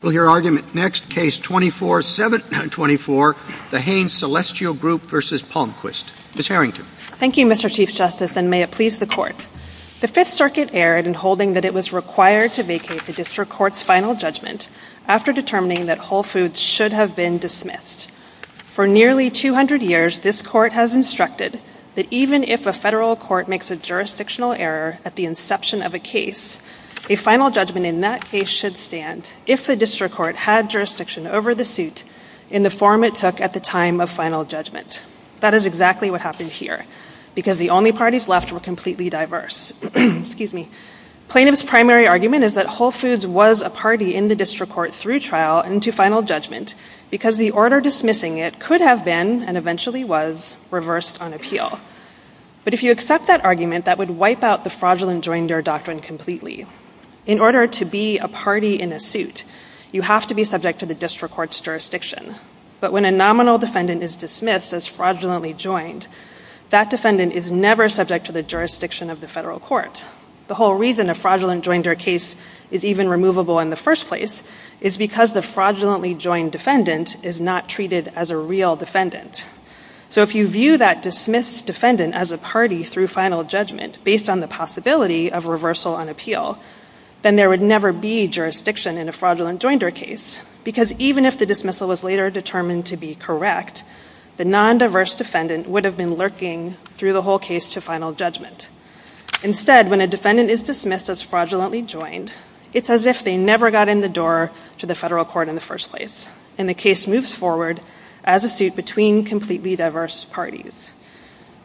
We'll hear argument next, Case 24-724, the Hain Celestial Group v. Palmquist. Ms. Harrington. Thank you, Mr. Chief Justice, and may it please the Court. The Fifth Circuit erred in holding that it was required to vacate the District Court's final judgment after determining that Whole Foods should have been dismissed. For nearly 200 years, this Court has instructed that even if a federal court makes a jurisdictional error at the inception of a case, a final judgment in that case should stand if the District Court had jurisdiction over the suit in the form it took at the time of final judgment. That is exactly what happened here, because the only parties left were completely diverse. Plaintiffs' primary argument is that Whole Foods was a party in the District Court through trial and to final judgment because the order dismissing it could have been, and eventually was, reversed on appeal. But if you accept that argument, that would wipe out the fraudulent joinder doctrine completely. In order to be a party in a suit, you have to be subject to the District Court's jurisdiction. But when a nominal defendant is dismissed as fraudulently joined, that defendant is never subject to the jurisdiction of the federal court. The whole reason a fraudulent joinder case is even removable in the first place is because the fraudulently joined defendant is not treated as a real defendant. So if you view that dismissed defendant as a party through final judgment based on the possibility of reversal on appeal, then there would never be jurisdiction in a fraudulent joinder case, because even if the dismissal was later determined to be correct, the non-diverse defendant would have been lurking through the whole case to final judgment. Instead, when a defendant is dismissed as fraudulently joined, it's as if they never got in the door to the federal court in the first place, and the case moves forward as a suit between completely diverse parties.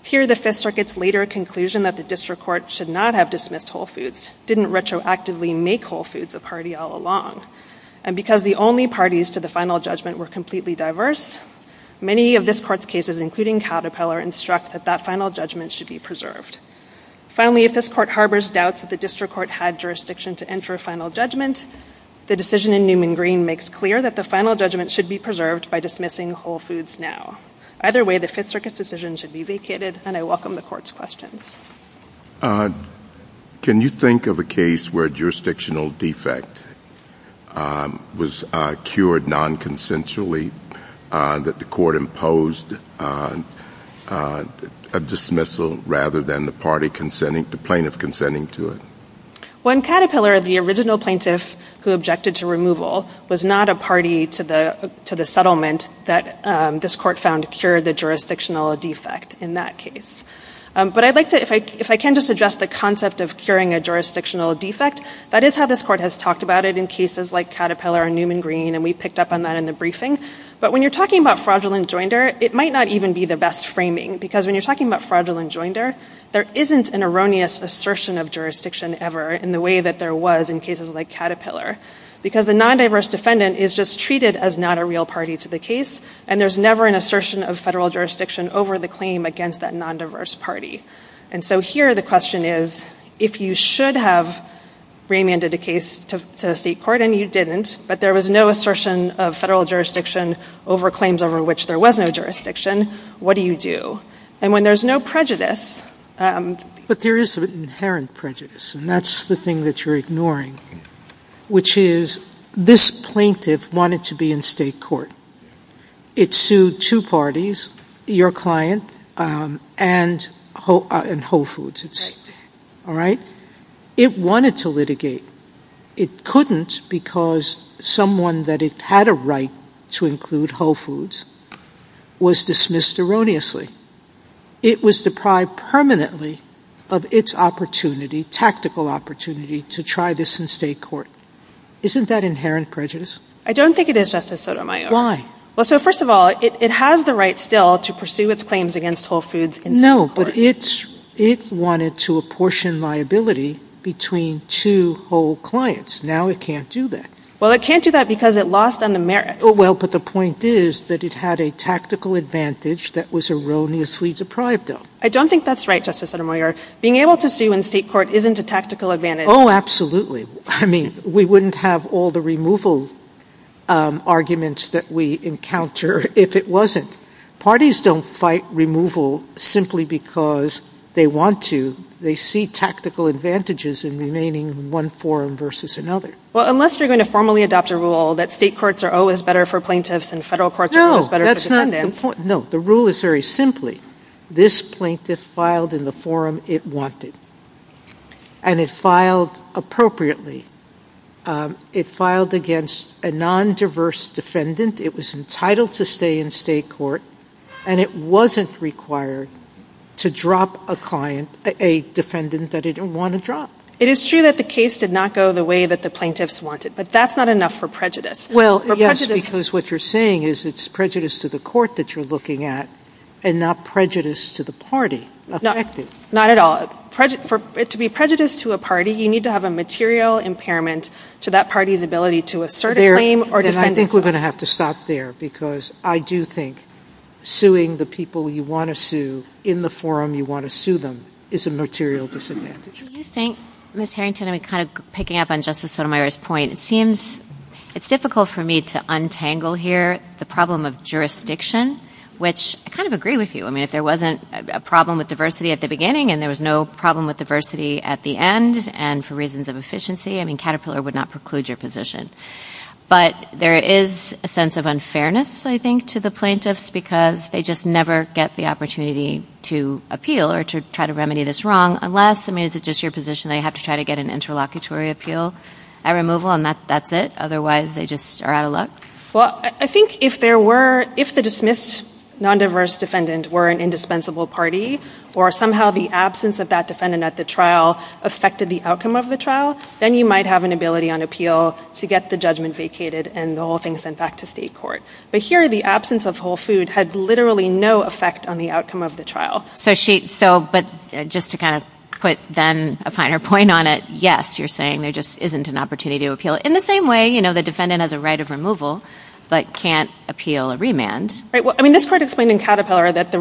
Here, the Fifth Circuit's later conclusion that the District Court should not have dismissed whole foods didn't retroactively make whole foods a party all along. And because the only parties to the final judgment were completely diverse, many of this court's cases, including Caterpillar, instruct that that final judgment should be preserved. Finally, if this court harbors doubts that the District Court had jurisdiction to enter a final judgment, the decision in Newman Green makes clear that the final judgment should be preserved by dismissing whole foods now. Either way, the Fifth Circuit's decision should be vacated, and I welcome the court's questions. Can you think of a case where a jurisdictional defect was cured non-consensually, that the court imposed a dismissal rather than the party consenting, the plaintiff consenting to it? When Caterpillar, the original plaintiff who objected to removal, was not a party to the settlement that this court found cured the jurisdictional defect in that case. But I'd like to, if I can just address the concept of curing a jurisdictional defect, that is how this court has talked about it in cases like Caterpillar and Newman Green, and we picked up on that in the briefing. But when you're talking about fraudulent joinder, it might not even be the best framing, because when you're talking about fraudulent joinder, there isn't an erroneous assertion of jurisdiction ever in the way that there was in cases like Caterpillar. Because the non-diverse defendant is just treated as not a real party to the case, and there's never an assertion of federal jurisdiction over the claim against that non-diverse party. And so here the question is, if you should have remanded a case to the state court and you didn't, but there was no assertion of federal jurisdiction over claims over which there was no jurisdiction, what do you do? And when there's no prejudice... There is an inherent prejudice, and that's the thing that you're ignoring, which is this plaintiff wanted to be in state court. It sued two parties, your client and Whole Foods, all right? It wanted to litigate. It couldn't because someone that had a right to include Whole Foods was dismissed erroneously. It was deprived permanently of its opportunity, tactical opportunity, to try this in state court. Isn't that inherent prejudice? I don't think it is, Justice Sotomayor. Why? Well, so first of all, it has the right still to pursue its claims against Whole Foods. No, but it wanted to apportion liability between two whole clients. Now it can't do that. Well, it can't do that because it lost on the merits. But the point is that it had a tactical advantage that was erroneously deprived of. I don't think that's right, Justice Sotomayor. Being able to sue in state court isn't a tactical advantage. Oh, absolutely. I mean, we wouldn't have all the removal arguments that we encounter if it wasn't. Parties don't fight removal simply because they want to. They see tactical advantages in remaining in one forum versus another. Well, unless you're going to formally adopt a rule that state courts are always better for plaintiffs and federal courts are always better for defendants. No, the rule is very simply, this plaintiff filed in the forum it wanted. And it filed appropriately. It filed against a non-diverse defendant. It was entitled to stay in state court. And it wasn't required to drop a defendant that it didn't want to drop. It is true that the case did not go the way that the plaintiffs wanted, but that's not enough for prejudice. Well, yes, because what you're saying is it's prejudice to the court that you're looking at and not prejudice to the party affected. Not at all. To be prejudiced to a party, you need to have a material impairment to that party's ability to assert a claim or defend itself. I think we're going to have to stop there because I do think suing the people you want to sue in the forum you want to sue them is a material disadvantage. Do you think, Ms. Harrington, I'm kind of picking up on Justice Sotomayor's point. It's difficult for me to untangle here the problem of jurisdiction, which I kind of agree with you. I mean, if there wasn't a problem with diversity at the beginning and there was no problem with diversity at the end and for reasons of efficiency, I mean, Caterpillar would not preclude your position. But there is a sense of unfairness, I think, to the plaintiffs because they just never get the opportunity to appeal or to try to remedy this wrong unless, I mean, is it just your position they have to try to get an interlocutory appeal at removal and that's it? Otherwise, they just are out of luck? Well, I think if the dismissed non-diverse defendant were an indispensable party or somehow the absence of that defendant at the trial affected the outcome of the trial, then you might have an ability on appeal to get the judgment vacated and the whole thing sent back to state court. But here, the absence of whole food had literally no effect on the outcome of the trial. But just to kind of put then a finer point on it, yes, you're saying there just isn't an opportunity to appeal. In the same way, the defendant has a right of removal but can't appeal a remand. Right. Well, I mean, this court explained in Caterpillar that the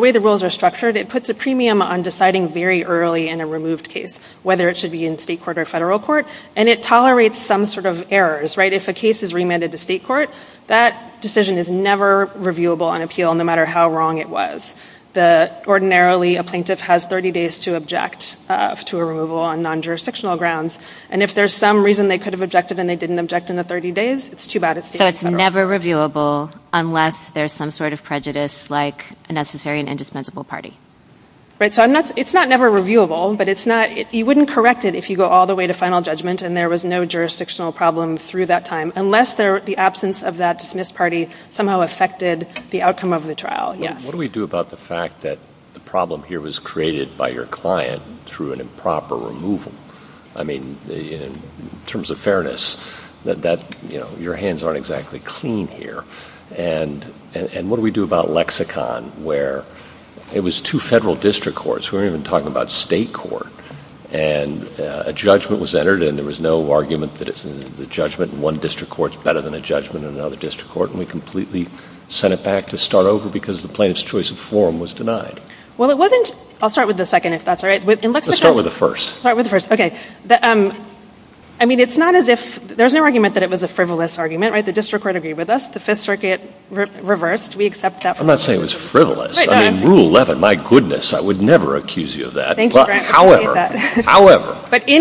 way the rules are structured, it puts a premium on deciding very early in a removed case, whether it should be in state court or federal court, and it tolerates some sort of errors, if a case is remanded to state court, that decision is never reviewable on appeal, no matter how wrong it was. Ordinarily, a plaintiff has 30 days to object to a removal on non-jurisdictional grounds. And if there's some reason they could have objected and they didn't object in the 30 days, it's too bad. So it's never reviewable unless there's some sort of prejudice, like a necessary and indispensable party. Right. So it's not never reviewable, but you wouldn't correct it if you go all the way to final judgment and there was no jurisdictional problem through that time, unless the absence of that dismissed party somehow affected the outcome of the trial. Yes. What do we do about the fact that the problem here was created by your client through an improper removal? I mean, in terms of fairness, your hands aren't exactly clean here. And what do we do about lexicon, where it was two federal district courts, we weren't even talking about state court. And a judgment was entered and there was no argument that the judgment in one district court is better than a judgment in another district court. And we completely sent it back to start over because the plaintiff's choice of forum was denied. Well, it wasn't — I'll start with the second, if that's all right. Let's start with the first. Start with the first. Okay. I mean, it's not as if — there's no argument that it was a frivolous argument, right? The district court agreed with us. The Fifth Circuit reversed. We accept that. I'm not saying it was frivolous. I mean, Rule 11, my goodness, I would never accuse you of that. Thank you, Grant. However, however,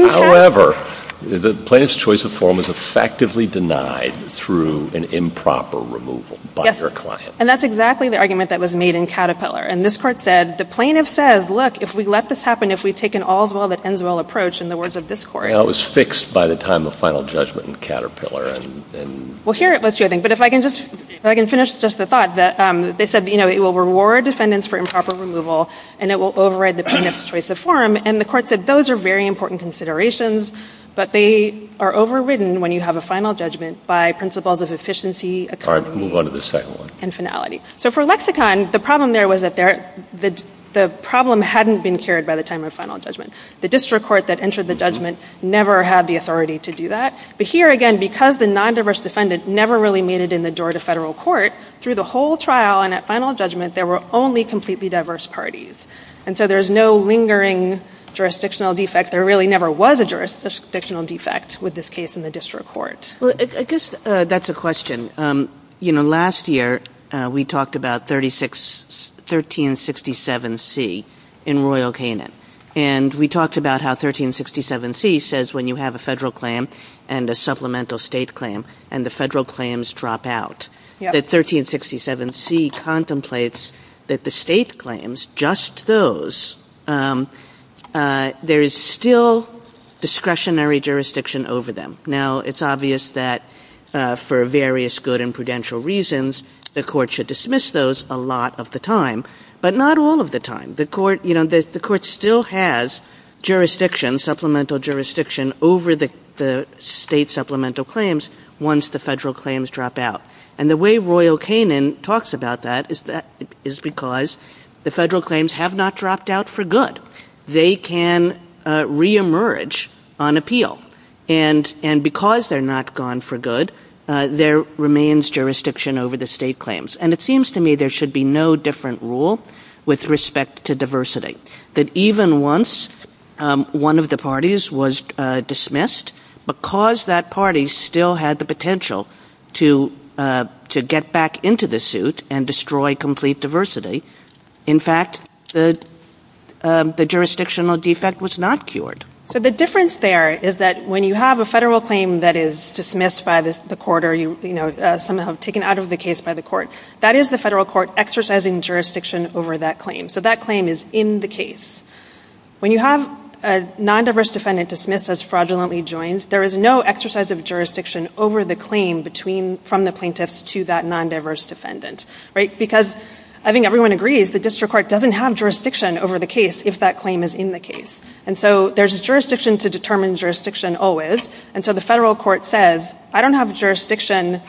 however, the plaintiff's choice of forum was effectively denied through an improper removal by your client. And that's exactly the argument that was made in Caterpillar. And this Court said, the plaintiff says, look, if we let this happen, if we take an all's well that ends well approach, in the words of this Court — That was fixed by the time of final judgment in Caterpillar. Well, here it was, too, I think. But if I can just — if I can finish just the thought that they said, you know, it will reward defendants for improper removal and it will override the plaintiff's choice of forum. And the Court said those are very important considerations, but they are overridden when you have a final judgment by principles of efficiency, accountability — All right. Move on to the second one. And finality. So for Lexicon, the problem there was that the problem hadn't been carried by the time of final judgment. The district court that entered the judgment never had the authority to do that. But here, again, because the nondiverse defendant never really made it in the door to federal court, through the whole trial and at final judgment, there were only completely diverse parties. And so there is no lingering jurisdictional defect. There really never was a jurisdictional defect with this case in the district court. Well, I guess that's a question. You know, last year, we talked about 1367C in Royal Canin. And we talked about how 1367C says when you have a federal claim and a supplemental state claim, and the federal claims drop out, that 1367C contemplates that the state claims, just those, there is still discretionary jurisdiction over them. Now, it's obvious that for various good and prudential reasons, the Court should dismiss those a lot of the time, but not all of the time. The Court — you know, the Court still has jurisdiction, supplemental jurisdiction, over the state supplemental claims once the federal claims drop out. And the way Royal Canin talks about that is because the federal claims have not dropped out for good. They can reemerge on appeal. And because they're not gone for good, there remains jurisdiction over the state claims. And it seems to me there should be no different rule with respect to diversity, that even once one of the parties was dismissed, because that party still had the potential to get back into the suit and destroy complete diversity, in fact, the jurisdictional defect was not cured. So the difference there is that when you have a federal claim that is dismissed by the court, or, you know, somehow taken out of the case by the court, that is the federal court exercising jurisdiction over that claim. So that claim is in the case. When you have a non-diverse defendant dismissed as fraudulently joined, there is no exercise of jurisdiction over the claim between — from the plaintiffs to that non-diverse defendant, right? Because I think everyone agrees the district court doesn't have jurisdiction over the case if that claim is in the case. And so there's jurisdiction to determine jurisdiction always. And so the federal court says, I don't have jurisdiction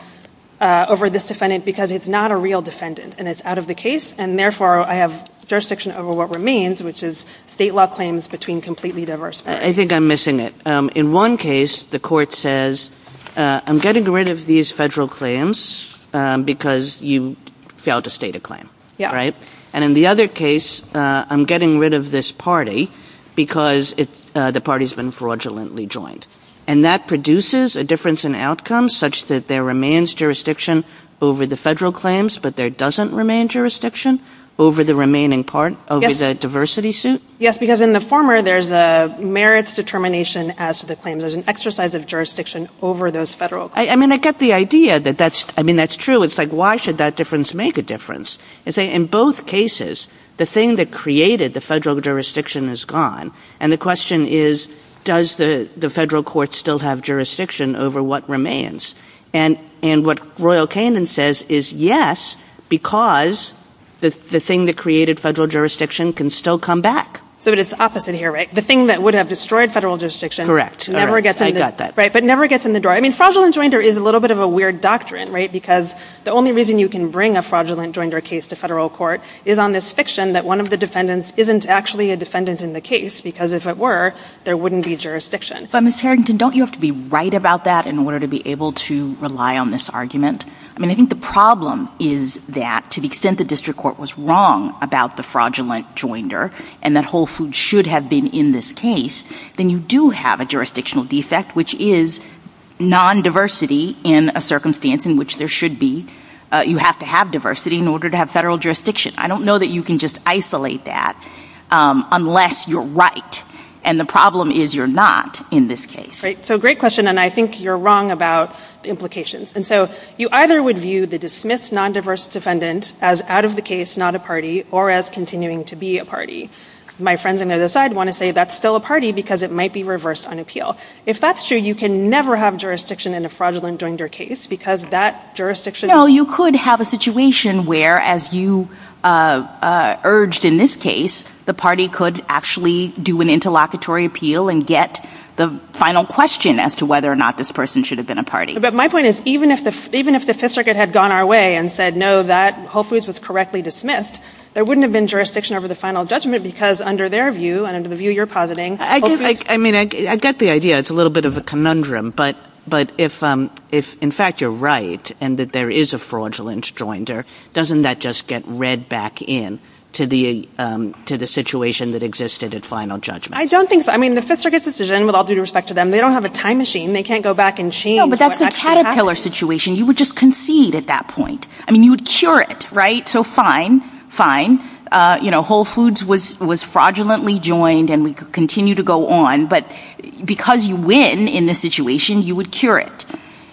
over this defendant because it's not a real defendant, and it's out of the case, and therefore I have jurisdiction over what remains, which is state law claims between completely diverse parties. I think I'm missing it. In one case, the court says, I'm getting rid of these federal claims because you failed to state a claim, right? And in the other case, I'm getting rid of this party because the party's been fraudulently joined. And that produces a difference in outcomes such that there remains jurisdiction over the federal claims, but there doesn't remain jurisdiction over the remaining part — over the diversity suit? Yes, because in the former, there's a merits determination as to the claims. There's an exercise of jurisdiction over those federal claims. I mean, I get the idea that that's — I mean, that's true. It's like, why should that difference make a difference? In both cases, the thing that created the federal jurisdiction is gone. And the question is, does the federal court still have jurisdiction over what remains? And what Royal Canin says is, yes, because the thing that created federal jurisdiction can still come back. So it's the opposite here, right? The thing that would have destroyed federal jurisdiction — Correct. I got that. Right, but never gets in the door. I mean, fraudulent joinder is a little bit of a weird doctrine, right? Because the only reason you can bring a fraudulent joinder case to federal court is on this fiction that one of the defendants isn't actually a defendant in the case, because if it were, there wouldn't be jurisdiction. But Ms. Harrington, don't you have to be right about that in order to be able to rely on this argument? I mean, I think the problem is that, to the extent the district court was wrong about the fraudulent joinder, and that Whole Foods should have been in this case, then you do have a jurisdictional defect, which is non-diversity in a circumstance in which there should be — you have to have diversity in order to have federal jurisdiction. I don't know that you can just isolate that unless you're right. And the problem is you're not in this case. Right. So great question, and I think you're wrong about the implications. And so you either would view the dismissed non-diverse defendant as out of the case, not a party, or as continuing to be a party. My friends on the other side want to say that's still a party because it might be reversed on appeal. If that's true, you can never have jurisdiction in a fraudulent joinder case because that jurisdiction — You know, you could have a situation where, as you urged in this case, the party could actually do an interlocutory appeal and get the final question as to whether or not this person should have been a party. But my point is, even if the Fifth Circuit had gone our way and said, no, that — Whole Foods was correctly dismissed, there wouldn't have been jurisdiction over the final judgment because, under their view and under the view you're positing — I mean, I get the idea. It's a little bit of a conundrum. But if, in fact, you're right and there is a fraudulent joinder, doesn't that just get read back in to the situation that existed at final judgment? I don't think so. I mean, the Fifth Circuit's decision, with all due respect to them, they don't have a time machine. They can't go back and change what actually happened. No, but that's the Caterpillar situation. You would just concede at that point. I mean, you would cure it, right? So fine, fine. You know, Whole Foods was fraudulently joined and we could continue to go on. But because you win in this situation, you would cure it.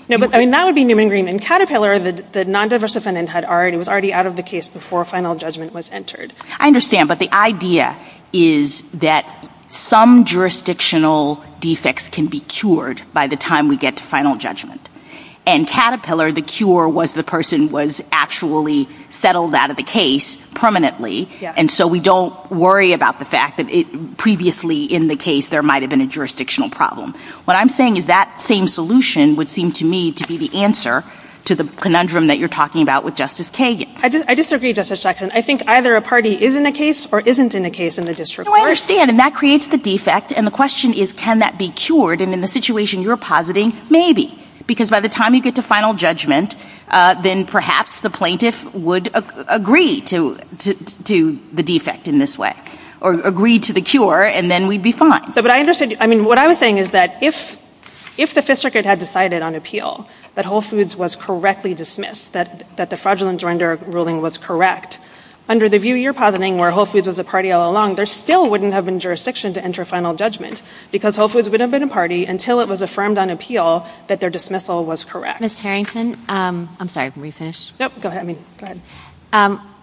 No, but, I mean, that would be Neumann-Green. In Caterpillar, the non-diverse defendant had already — was already out of the case before final judgment was entered. I understand. But the idea is that some jurisdictional defects can be cured by the time we get to final judgment. And Caterpillar, the cure was the person was actually settled out of the case permanently. And so we don't worry about the fact that previously in the case there might have been a jurisdictional problem. What I'm saying is that same solution would seem to me to be the answer to the conundrum that you're talking about with Justice Kagan. I disagree, Justice Jackson. I think either a party is in a case or isn't in a case in the district court. No, I understand. And that creates the defect. And the question is, can that be cured? And in the situation you're positing, maybe. Because by the time you get to final judgment, then perhaps the plaintiff would agree to the defect in this way, or agree to the cure, and then we'd be fine. What I was saying is that if the Fifth Circuit had decided on appeal, that Whole Foods was correctly dismissed, that the fraudulent joinder ruling was correct, under the view you're positing, where Whole Foods was a party all along, there still wouldn't have been jurisdiction to enter final judgment. Because Whole Foods wouldn't have been a party until it was affirmed on appeal that their dismissal was correct. Ms. Harrington, I'm sorry, can we finish? No, go ahead.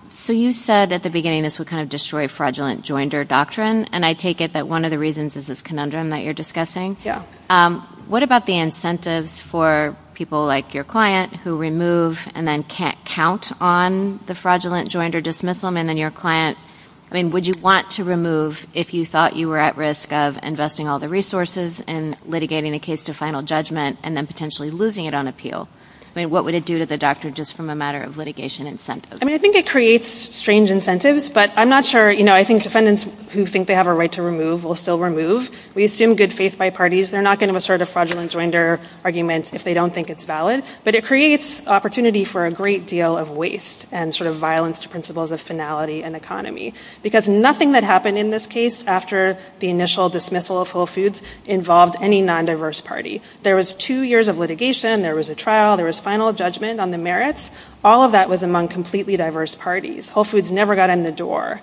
So you said at the beginning this would destroy fraudulent joinder doctrine. And I take it that the reasons is this conundrum that you're discussing. What about the incentives for people like your client who remove and then can't count on the fraudulent joinder dismissal? And then your client, would you want to remove if you thought you were at risk of investing all the resources and litigating the case to final judgment, and then potentially losing it on appeal? What would it do to the doctor just from a matter of litigation incentives? I think it creates strange incentives. But I'm not sure. I think defendants who think they have a will still remove. We assume good faith by parties. They're not going to assert a fraudulent joinder argument if they don't think it's valid. But it creates opportunity for a great deal of waste and violence to principles of finality and economy. Because nothing that happened in this case after the initial dismissal of Whole Foods involved any non-diverse party. There was two years of litigation. There was a trial. There was final judgment on the merits. All of that was among completely diverse parties. Whole Foods never got in the door.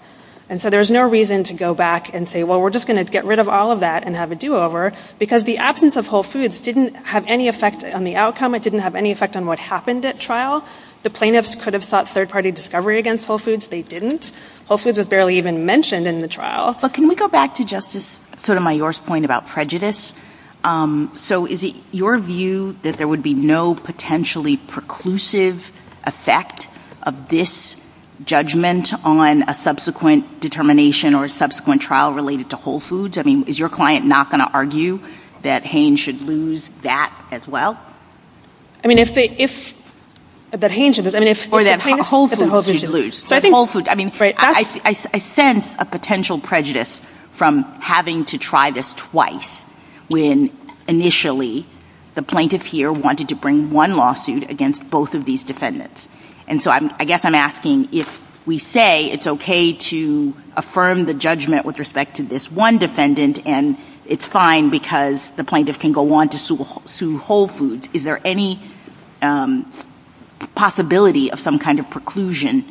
And so there was no reason to go back and say, well, we're just going to get rid of all of that and have a do-over. Because the absence of Whole Foods didn't have any effect on the outcome. It didn't have any effect on what happened at trial. The plaintiffs could have sought third-party discovery against Whole Foods. They didn't. Whole Foods was barely even mentioned in the trial. But can we go back to Justice Sotomayor's point about prejudice? So is it your view that there would be no potentially preclusive effect of this judgment on a subsequent determination or a subsequent trial related to Whole Foods? I mean, is your client not going to argue that Haines should lose that as well? I mean, if they — if — that Haines should lose — Or that Whole Foods should lose. I mean, I sense a potential prejudice from having to try this twice when initially the plaintiff here wanted to bring one lawsuit against both of these defendants. And so I guess I'm asking, if we say it's okay to affirm the judgment with respect to this one defendant and it's fine because the plaintiff can go on to sue Whole Foods, is there any possibility of some kind of preclusion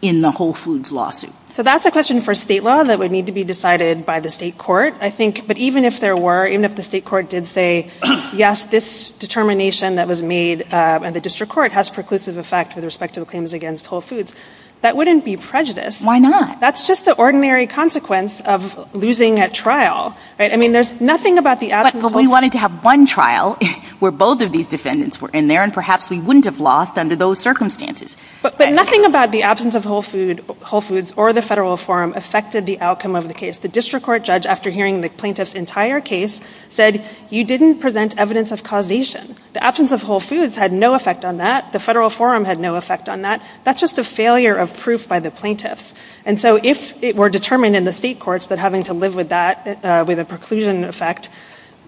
in the Whole Foods lawsuit? So that's a question for state law that would need to be decided by the state court, I think. But even if there were, even if the state court did say, yes, this determination that was made in the district court has preclusive effect with respect to the claims against Whole Foods, that wouldn't be prejudice. Why not? That's just the ordinary consequence of losing at trial, right? I mean, there's nothing about the absence of — But we wanted to have one trial where both of these defendants were in there, and perhaps we wouldn't have lost under those circumstances. But nothing about the absence of Whole Foods or the federal forum affected the outcome of the case. The district court judge, after hearing the plaintiff's entire case, said, you didn't present evidence of causation. The absence of Whole Foods had no effect on that. The federal forum had no effect on that. That's just a failure of proof by the plaintiffs. And so if it were determined in the state courts that having to live with that, with a preclusion effect,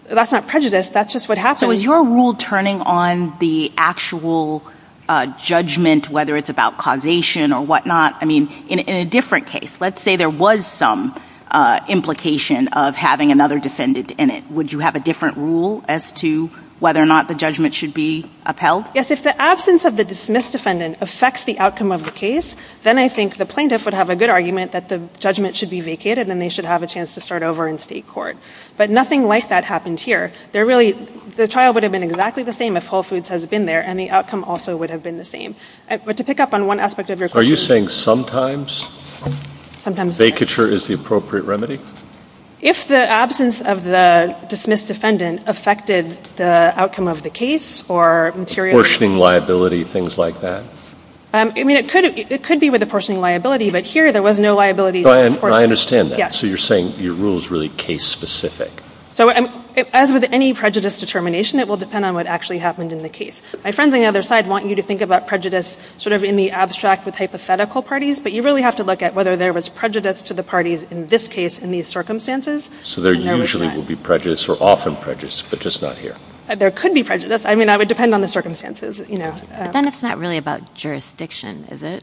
that's not prejudice, that's just what happens. So is your rule turning on the actual judgment, whether it's about causation or whatnot? I mean, in a different case, let's say there was some implication of having another defendant in it, would you have a different rule as to whether or not the judgment should be upheld? Yes. If the absence of the dismissed defendant affects the outcome of the case, then I think the plaintiff would have a good argument that the judgment should be vacated and they should have a chance to start over in state court. But nothing like that happened here. They're really — the trial would have been exactly the same if Whole Foods has been there, and the outcome also would have been the same. But to pick up on one aspect of your question — Are you saying sometimes vacature is the appropriate remedy? If the absence of the dismissed defendant affected the outcome of the case or material — Apportioning liability, things like that? I mean, it could be with apportioning liability, but here there was no liability. I understand that. So you're saying your rule is really case-specific. So as with any prejudice determination, it will depend on what actually happened in the case. My friends on the other side want you to think about prejudice sort of in the abstract with hypothetical parties, but you really have to look at whether there was prejudice to the parties in this case, in these circumstances. So there usually will be prejudice or often prejudice, but just not here. There could be prejudice. I mean, that would depend on the circumstances, you know. But then it's not really about jurisdiction, is it?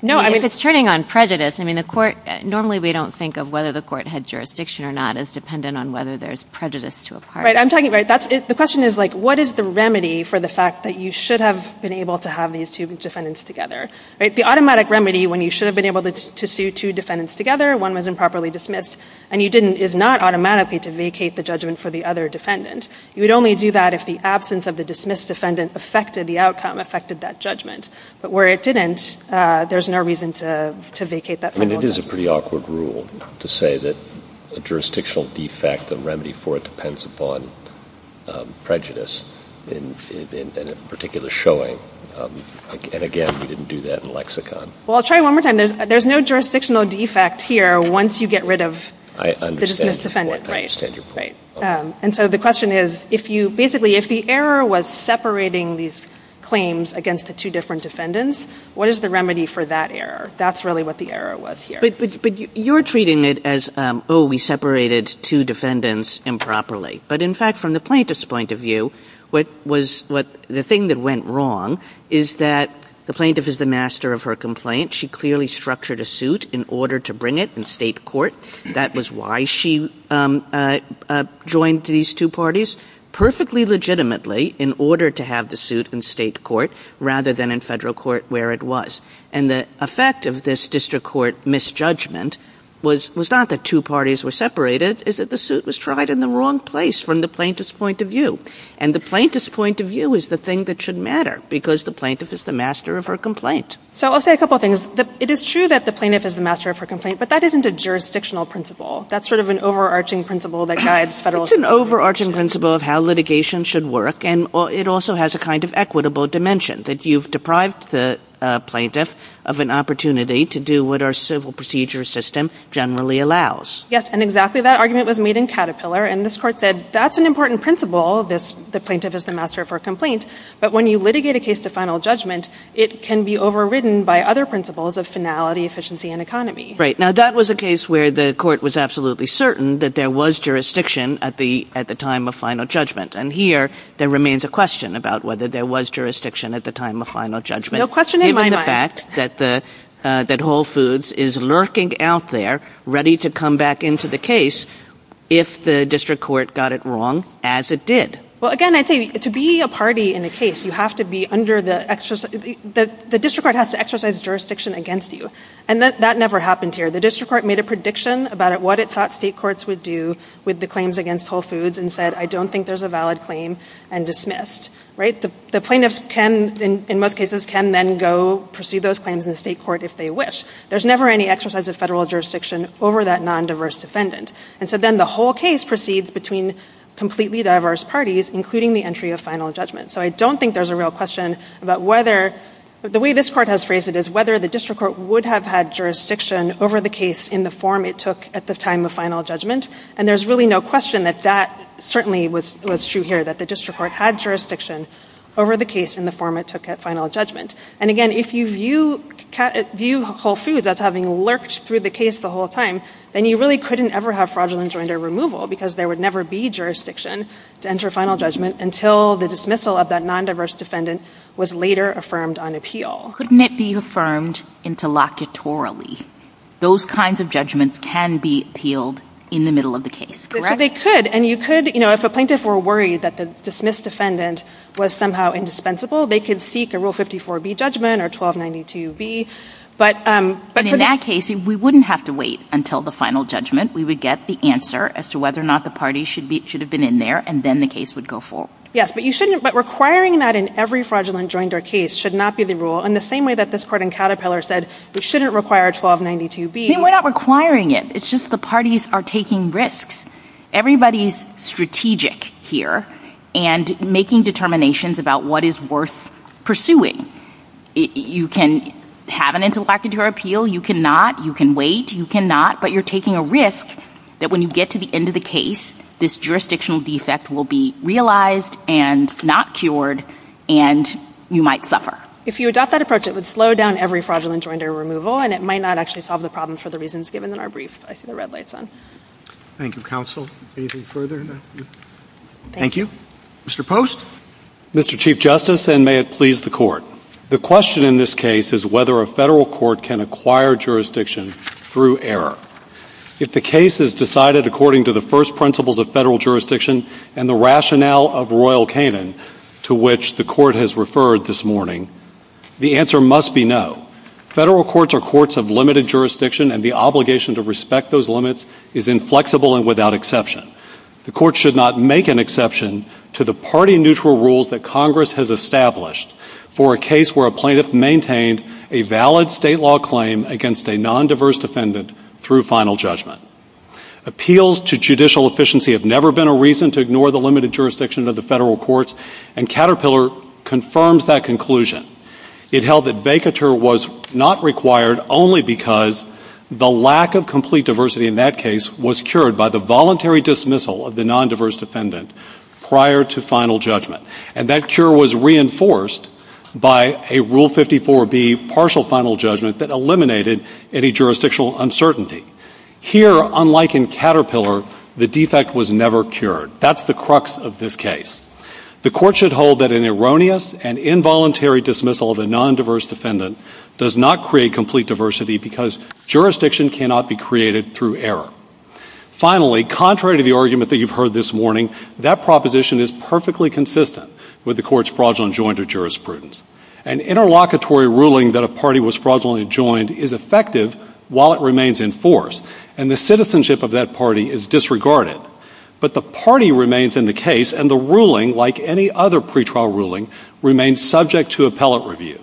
No, I mean — If it's turning on prejudice, I mean, the court — normally we don't think of whether the court had jurisdiction or not as dependent on whether there's prejudice to a party. Right. I'm talking — right, that's — the question is like, what is the remedy for the fact that you should have been able to have these two defendants together, right? The automatic remedy when you should have been able to sue two defendants together, one was improperly dismissed, and you didn't, is not automatically to vacate the judgment for the other defendant. You would only do that if the absence of the dismissed defendant affected the outcome, affected that judgment. But where it didn't, there's no reason to vacate that. And it is a pretty awkward rule to say that a jurisdictional defect, a remedy for it, depends upon prejudice in a particular showing. And again, we didn't do that in lexicon. I'll try one more time. There's no jurisdictional defect here once you get rid of the dismissed defendant. I understand your point. And so the question is, if you — basically, if the error was separating these claims against the two different defendants, what is the remedy for that error? That's really what the error was here. But you're treating it as, oh, we separated two defendants improperly. But in fact, from the plaintiff's point of view, what was — the thing that went wrong is that the plaintiff is the master of her complaint. She clearly structured a suit in order to bring it in state court. That was why she joined these two parties perfectly legitimately in order to have the suit in state court rather than in federal court where it was. And the effect of this district court misjudgment was not that two parties were separated. It's that the suit was tried in the wrong place from the plaintiff's point of view. And the plaintiff's point of view is the thing that should matter, because the plaintiff is master of her complaint. So I'll say a couple of things. It is true that the plaintiff is the master of her complaint, but that isn't a jurisdictional principle. That's sort of an overarching principle that guides federal — It's an overarching principle of how litigation should work. And it also has a kind of equitable dimension, that you've deprived the plaintiff of an opportunity to do what our civil procedure system generally allows. Yes. And exactly that argument was made in Caterpillar. And this Court said, that's an important principle, this — the plaintiff is the master of her complaint. But when you litigate a case to final judgment, it can be overridden by other principles of finality, efficiency, and economy. Right. Now, that was a case where the Court was absolutely certain that there was jurisdiction at the — at the time of final judgment. And here, there remains a question about whether there was jurisdiction at the time of final judgment — No question in my mind. — given the fact that the — that Whole Foods is lurking out there, ready to come back into the case if the district court got it wrong, as it did. Well, again, I'd say, to be a party in a case, you have to be under the — the district court has to exercise jurisdiction against you. And that never happened here. The district court made a prediction about what it thought state courts would do with the claims against Whole Foods, and said, I don't think there's a valid claim, and dismissed. Right? The plaintiffs can, in most cases, can then go pursue those claims in the state court if they wish. There's never any exercise of federal jurisdiction over that non-diverse defendant. And so then the whole case proceeds between completely diverse parties, including the entry of final judgment. So I don't think there's a real question about whether — the way this court has phrased it is whether the district court would have had jurisdiction over the case in the form it took at the time of final judgment. And there's really no question that that certainly was — was true here, that the district court had jurisdiction over the case in the form it took at final judgment. And again, if you view — view Whole Foods as having lurked through the case the whole time, then you really couldn't ever have fraudulent joint or removal, because there would never be jurisdiction to enter final judgment until the dismissal of that non-diverse defendant was later affirmed on appeal. Couldn't it be affirmed interlocutorily? Those kinds of judgments can be appealed in the middle of the case, correct? So they could. And you could — you know, if a plaintiff were worried that the dismissed defendant was somehow indispensable, they could seek a Rule 54B judgment or 1292B. But — But in that case, we wouldn't have to wait until the final judgment. We would get the answer as to whether or not the parties should be — should have been in there, and then the case would go forward. Yes, but you shouldn't — but requiring that in every fraudulent joint or case should not be the rule, in the same way that this Court in Caterpillar said we shouldn't require 1292B. I mean, we're not requiring it. It's just the parties are taking risks. Everybody's strategic here and making determinations about what is worth pursuing. You can have an interlocutor appeal. You cannot. You can wait. You cannot. But you're taking a risk that when you get to the end of the case, this jurisdictional defect will be realized and not cured, and you might suffer. If you adopt that approach, it would slow down every fraudulent joint or removal, and it might not actually solve the problem for the reasons given in our brief. I see the red lights on. Thank you, counsel. Anything further? Thank you. Mr. Post. Mr. Chief Justice, and may it please the Court. The question in this case is whether a federal court can acquire jurisdiction through error. If the case is decided according to the first principles of federal jurisdiction and the rationale of Royal Canin, to which the Court has referred this morning, the answer must be no. Federal courts are courts of limited jurisdiction, and the obligation to respect those limits is inflexible and without exception. The Court should not make an exception to the party-neutral rules that Congress has established for a case where a plaintiff maintained a valid state law claim against a nondiverse defendant through final judgment. Appeals to judicial efficiency have never been a reason to ignore the limited jurisdiction of the federal courts, and Caterpillar confirms that conclusion. It held that vacatur was not required only because the lack of complete diversity in that case was cured by the voluntary dismissal of the nondiverse defendant prior to final judgment, and that cure was reinforced by a Rule 54B partial final judgment that eliminated any jurisdictional uncertainty. Here, unlike in Caterpillar, the defect was never cured. That's the crux of this case. The Court should hold that an erroneous and involuntary dismissal of a nondiverse defendant does not create complete diversity because jurisdiction cannot be created through error. Finally, contrary to the argument that you've heard this morning, that proposition is perfectly consistent with the Court's fraudulent adjoint or jurisprudence. An interlocutory ruling that a party was fraudulently adjoined is effective while it remains in force, and the citizenship of that party is disregarded. But the party remains in the case, and the ruling, like any other pretrial ruling, remains subject to appellate review.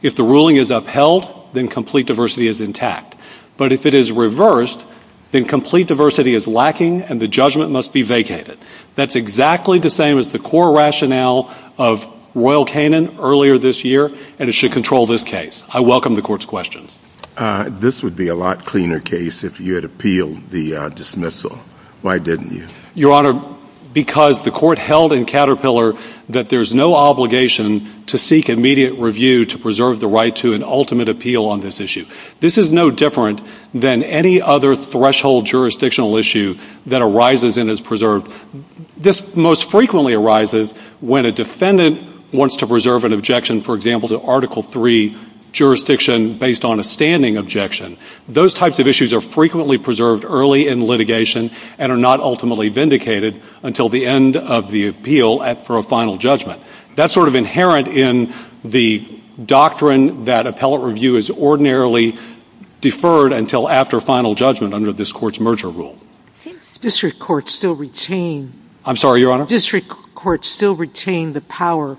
If the ruling is upheld, then complete diversity is intact. But if it is reversed, then complete diversity is lacking and the judgment must be vacated. That's exactly the same as the core rationale of Royal Canin earlier this year, and it should control this case. I welcome the Court's questions. This would be a lot cleaner case if you had appealed the dismissal. Why didn't you? Your Honor, because the Court held in Caterpillar that there's no obligation to seek immediate review to preserve the right to an ultimate appeal on this issue. This is no different than any other threshold jurisdictional issue that arises and is preserved. This most frequently arises when a defendant wants to preserve an objection, for example, to Article III jurisdiction based on a standing objection. Those types of issues are frequently preserved early in litigation and are not ultimately vindicated until the end of the for a final judgment. That's sort of inherent in the doctrine that appellate review is ordinarily deferred until after final judgment under this Court's merger rule. District courts still retain the power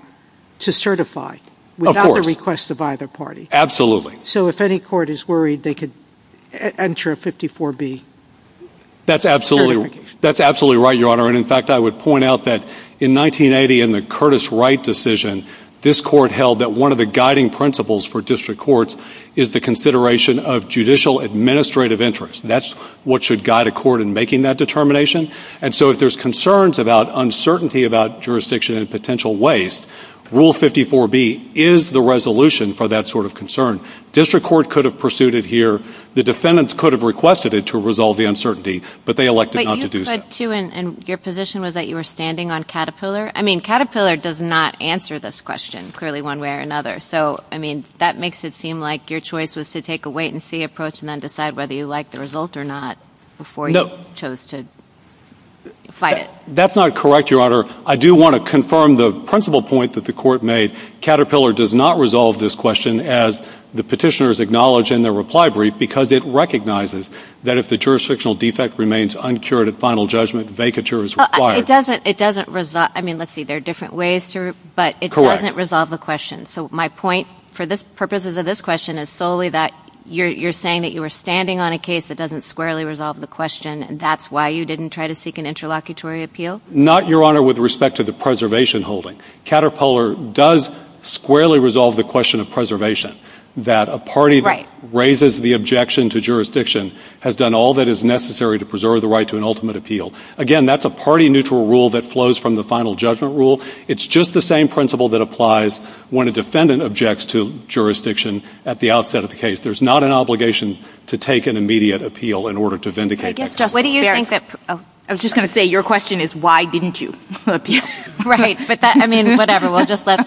to certify without the request of either party. Absolutely. So if any court is worried, they could enter a 54B certification. That's absolutely right, Your Honor. And in fact, I would point out that in 1980 in the Curtis Wright decision, this Court held that one of the guiding principles for district courts is the consideration of judicial administrative interest. That's what should guide a court in making that determination. And so if there's concerns about uncertainty about jurisdiction and potential waste, Rule 54B is the resolution for that sort of concern. District court could have pursued it here. The defendants could have but they elected not to do so. And your position was that you were standing on Caterpillar? I mean, Caterpillar does not answer this question clearly one way or another. So I mean, that makes it seem like your choice was to take a wait-and-see approach and then decide whether you like the result or not before you chose to fight it. That's not correct, Your Honor. I do want to confirm the principal point that the Court made. Caterpillar does not resolve this question as the petitioners acknowledge in their reply brief because it recognizes that if the jurisdictional defect remains uncured at final judgment, vacature is required. It doesn't. I mean, let's see, there are different ways to, but it doesn't resolve the question. So my point for the purposes of this question is solely that you're saying that you were standing on a case that doesn't squarely resolve the question and that's why you didn't try to seek an interlocutory appeal? Not, Your Honor, with respect to the preservation holding. Caterpillar does squarely resolve the question of preservation, that a party that raises the objection to jurisdiction has done all that is necessary to preserve the right to an ultimate appeal. Again, that's a party-neutral rule that flows from the final judgment rule. It's just the same principle that applies when a defendant objects to jurisdiction at the outset of the case. There's not an obligation to take an immediate appeal in order to vindicate that case. What do you think that, oh, I was just going to say, your question is why didn't you appeal? Right, but that, I mean, whatever, we'll just let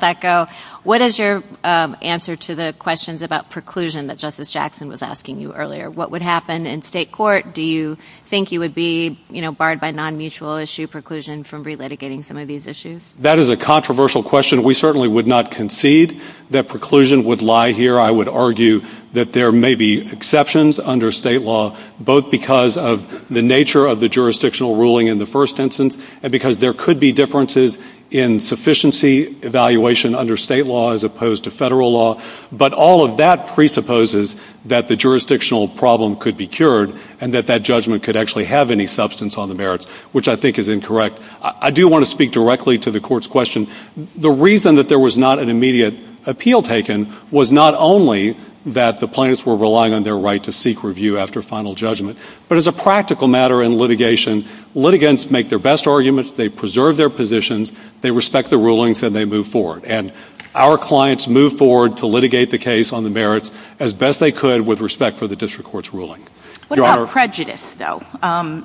that go. What is your answer to the questions about preclusion that Justice Jackson was asking you earlier? What would happen in state court? Do you think you would be barred by non-mutual issue preclusion from relitigating some of these issues? That is a controversial question. We certainly would not concede that preclusion would lie here. I would argue that there may be exceptions under state law, both because of the nature of the jurisdictional ruling in the first instance and because there could be differences in sufficiency evaluation under state law as opposed to federal law. But all of that presupposes that the jurisdictional problem could be cured and that that judgment could actually have any substance on the merits, which I think is incorrect. I do want to speak directly to the Court's question. The reason that there was not an immediate appeal taken was not only that the plaintiffs were relying on their right to after final judgment. But as a practical matter in litigation, litigants make their best arguments, they preserve their positions, they respect the rulings, and they move forward. And our clients move forward to litigate the case on the merits as best they could with respect for the district court's ruling. What about prejudice, though?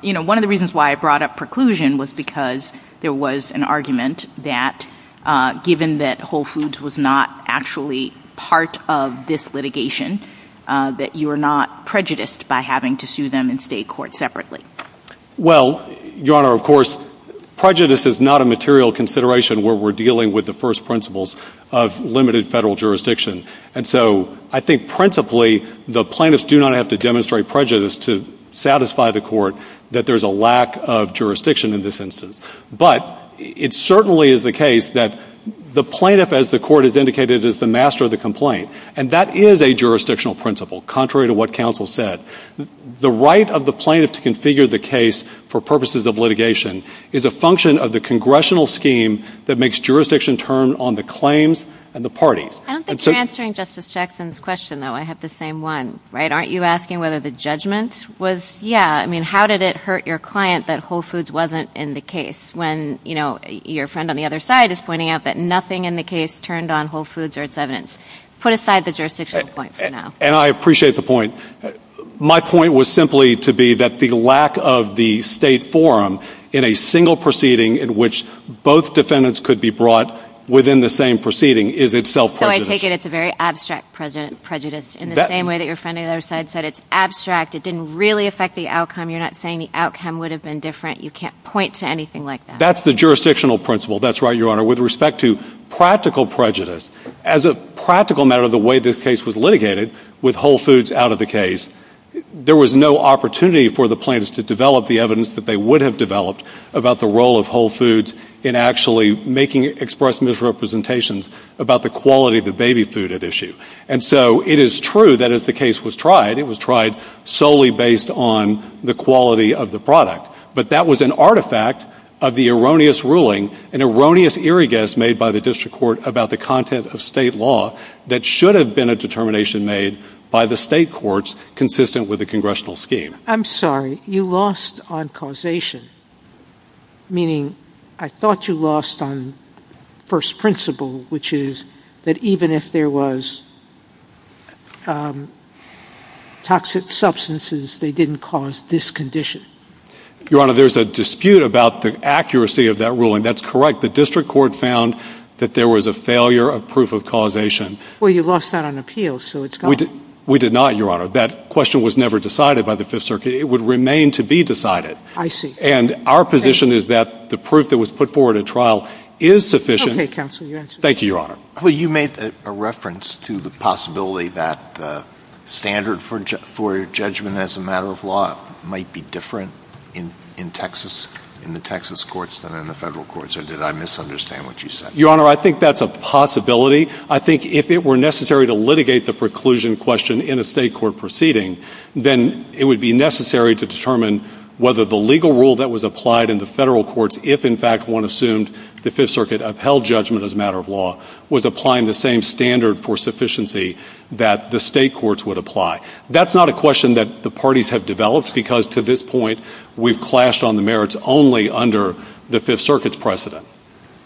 You know, one of the reasons why I brought up preclusion was because there was an argument that given that Whole Foods was not actually part of this litigation, that you are not prejudiced by having to sue them in state court separately. Well, Your Honor, of course, prejudice is not a material consideration where we're dealing with the first principles of limited federal jurisdiction. And so I think principally the plaintiffs do not have to demonstrate prejudice to satisfy the Court that there's a lack of jurisdiction in this instance. But it certainly is the case that the plaintiff as the Court has indicated is the master of the complaint. And that is a jurisdictional principle, contrary to what counsel said. The right of the plaintiff to configure the case for purposes of litigation is a function of the congressional scheme that makes jurisdiction turn on the claims and the parties. I don't think you're answering Justice Jackson's question, though. I have the same one, right? Aren't you asking whether the judgment was, yeah, I mean, how did it hurt your client that Whole Foods wasn't in the case when, you know, your friend on the other side is pointing out that nothing in the case turned on Whole Foods or its evidence? Put aside the jurisdictional point for now. And I appreciate the point. My point was simply to be that the lack of the state forum in a single proceeding in which both defendants could be brought within the same proceeding is itself prejudice. So I take it it's a very abstract prejudice in the same way that your friend on the other side said it's abstract. It didn't really affect the outcome. You're not saying the outcome would have been different. You can't point to anything like that. That's the jurisdictional principle. That's right, Your Honor. With respect to practical prejudice, as a practical matter of the way this case was litigated, with Whole Foods out of the case, there was no opportunity for the plaintiffs to develop the evidence that they would have developed about the role of Whole Foods in actually making express misrepresentations about the quality of the baby food at issue. And so it is true that as the case was tried, it was tried solely based on the quality of the product. But that was an artifact of the erroneous ruling, an erroneous irregress made by the district court about the content of state law that should have been a determination made by the state courts consistent with the congressional scheme. I'm sorry. You lost on causation, meaning I thought you lost on first principle, which is that even if there was toxic substances, they didn't cause this condition. Your Honor, there's a dispute about the accuracy of that ruling. That's correct. The district court found that there was a failure of proof of causation. Well, you lost that on appeals, so it's gone. We did not, Your Honor. That question was never decided by the Fifth Circuit. It would remain to be decided. I see. And our position is that the proof that was put forward at trial is sufficient. Okay, counsel, you're answered. Thank you, Your Honor. Well, you made a reference to the possibility that the standard for judgment as a matter of law might be different in the Texas courts than in the federal courts. Or did I misunderstand what you said? Your Honor, I think that's a possibility. I think if it were necessary to litigate the preclusion question in a state court proceeding, then it would be necessary to determine whether the legal rule that was applied in the federal courts, if in fact one assumed the Fifth Circuit upheld judgment as a matter of law, was applying the same standard for sufficiency that the state courts would apply. That's not a question that the parties have developed, because to this point, we've clashed on the merits only under the Fifth Circuit's precedent.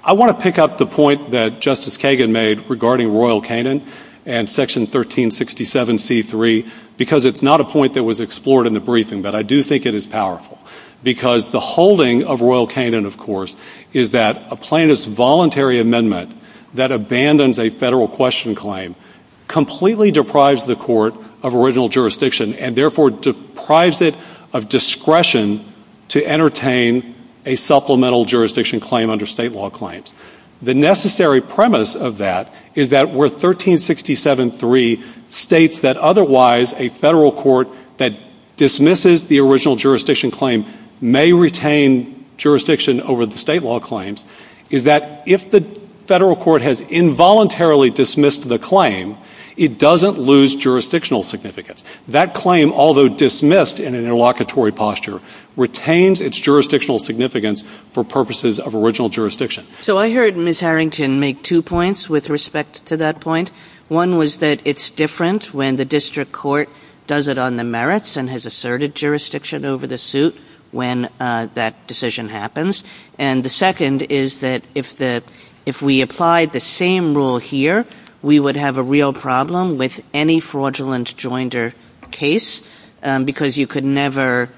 I want to pick up the point that Justice Kagan made regarding Royal Canin and Section 1367 c. 3, because it's not a point that was explored in the briefing, but I do think it is powerful. Because the holding of Royal Canin, of course, is that a plaintiff's voluntary amendment that abandons a federal question claim completely deprives the court of original jurisdiction, and therefore deprives it of discretion to entertain a supplemental jurisdiction claim under state law claims. The necessary premise of that is that where 1367. 3 states that otherwise a federal court that dismisses the original jurisdiction claim may retain jurisdiction over the state law claims is that if the federal court has involuntarily dismissed the claim, it doesn't lose jurisdictional significance. That claim, although dismissed in an interlocutory posture, retains its jurisdictional significance for purposes of original jurisdiction. So I heard Ms. Harrington make two points with respect to that point. One was that it's different when the district court does it on the merits and has asserted jurisdiction over the suit when that decision happens. And the second is that if we applied the same rule here, we would have a real problem with any fraudulent joinder case, because you could never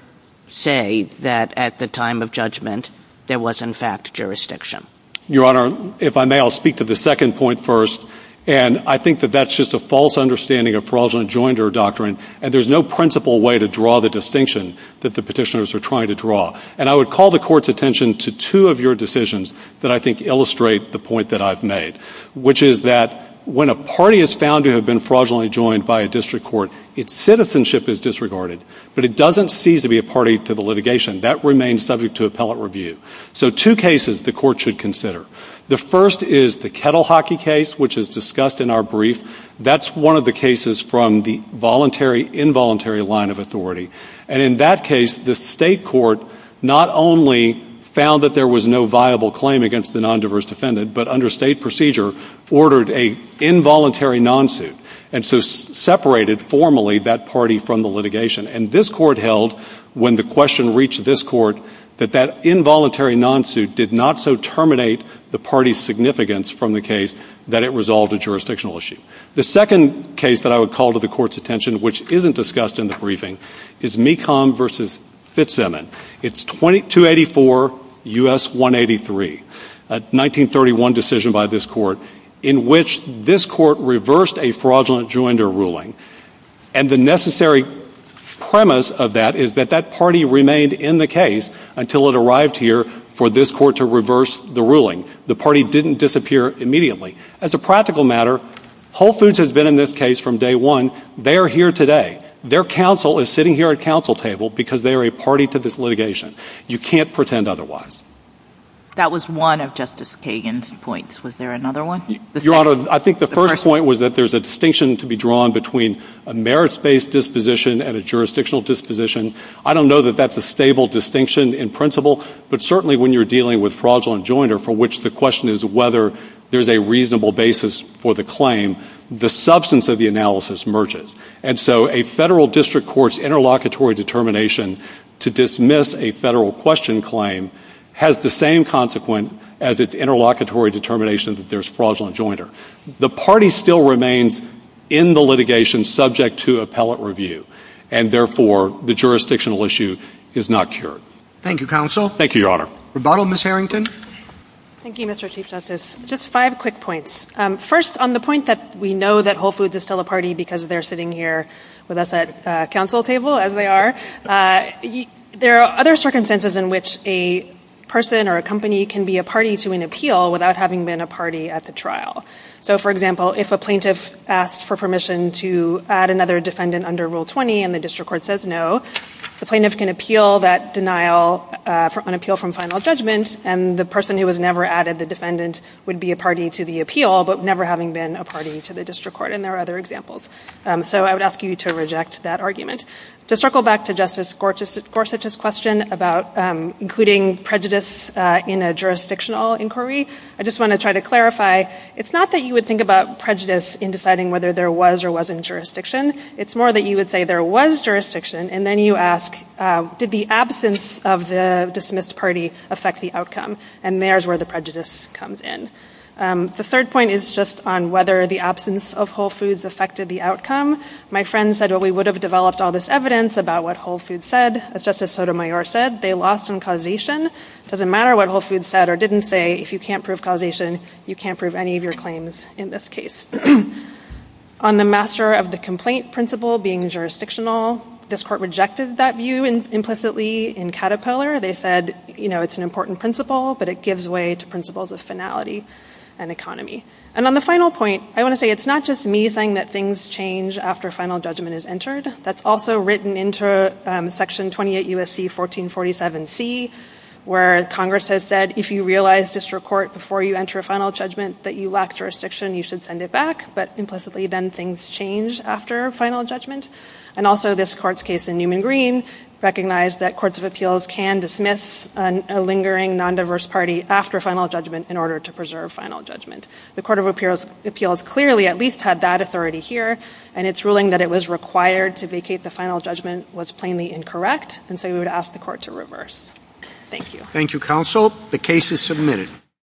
say that at the time of judgment there was in fact jurisdiction. Your Honor, if I may, I'll speak to the second point first. And I think that that's just a false understanding of fraudulent joinder doctrine, and there's no principle way to draw the distinction that the petitioners are trying to draw. And I would call the court's attention to two of your decisions that I think illustrate the point that I've made, which is that when a party is found to have been fraudulently joined by a district court, its citizenship is disregarded, but it doesn't cease to be a party to the litigation. That remains subject to appellate review. So two cases the court should consider. The first is the kettle hockey case, which is discussed in our brief. That's one of the cases from the voluntary, involuntary line of authority. And in that case, the state court not only found that there was no viable claim against the nondiverse defendant, but under state procedure, ordered a involuntary non-suit, and so separated formally that party from the litigation. And this court held, when the question reached this court, that that involuntary non-suit did not so terminate the party's significance from the case that it resolved a jurisdictional issue. The second case that I would call to the court's attention, which isn't discussed in the briefing, is MECOM v. Fitzsimmons. It's 284 U.S. 183, a 1931 decision by this court, in which this court reversed a fraudulent rejoinder ruling. And the necessary premise of that is that that party remained in the case until it arrived here for this court to reverse the ruling. The party didn't disappear immediately. As a practical matter, Whole Foods has been in this case from day one. They are here today. Their counsel is sitting here at counsel table because they are a party to this litigation. You can't pretend otherwise. That was one of Justice Kagan's points. Was there another one? Your Honor, I think the first point was that there's a distinction to be drawn between a merits-based disposition and a jurisdictional disposition. I don't know that that's a stable distinction in principle, but certainly when you're dealing with fraudulent rejoinder, for which the question is whether there's a reasonable basis for the claim, the substance of the analysis merges. And so a federal district court's interlocutory determination to dismiss a federal question claim has the same consequent as its interlocutory determination that there's fraudulent rejoinder. The party still remains in the litigation subject to appellate review, and therefore the jurisdictional issue is not cured. Thank you, counsel. Thank you, Your Honor. Rebuttal, Ms. Harrington. Thank you, Mr. Chief Justice. Just five quick points. First, on the point that we know that Whole Foods is still a party because they're sitting here with us at counsel table, as they are, there are other circumstances in which a person or a company can be a party to an appeal without having been a party at the trial. So for example, if a plaintiff asked for permission to add another defendant under Rule 20 and the district court says no, the plaintiff can appeal that denial, an appeal from final judgment, and the person who was never added, the defendant, would be a party to the appeal, but never having been a party to the district court, and there are other examples. So I would ask you to reject that argument. To circle back to Justice Gorsuch's question about including prejudice in a jurisdictional inquiry, I just want to try to clarify, it's not that you would think about prejudice in deciding whether there was or wasn't jurisdiction. It's more that you would say there was jurisdiction, and then you ask, did the absence of the dismissed party affect the outcome? And there's where the prejudice comes in. The third point is just on whether the absence of whole foods affected the outcome. My friend said, well, we would have developed all this evidence about what whole foods said. As Justice Sotomayor said, they lost on causation. It doesn't matter what whole foods said or didn't say, if you can't prove causation, you can't prove any of your claims in this case. On the master of the complaint principle being jurisdictional, this court rejected that view implicitly in Caterpillar. They said it's an important principle, but it gives way to principles of finality and economy. And on the final point, I want to say it's not just me saying that things change after final judgment is entered. That's also written into Section 28 U.S.C. 1447C, where Congress has said if you realize district court before you enter a final judgment that you lack jurisdiction, you should send it back. But implicitly, then things change after final judgment. And also this court's case in Newman Green recognized that courts of appeals can dismiss a lingering non-diverse party after final judgment in order to preserve final judgment. The court of appeals clearly at least had that authority here, and its ruling that it was required to vacate the final judgment was plainly incorrect, and so we would ask the court to reverse. Thank you. Thank you, counsel. The case is submitted.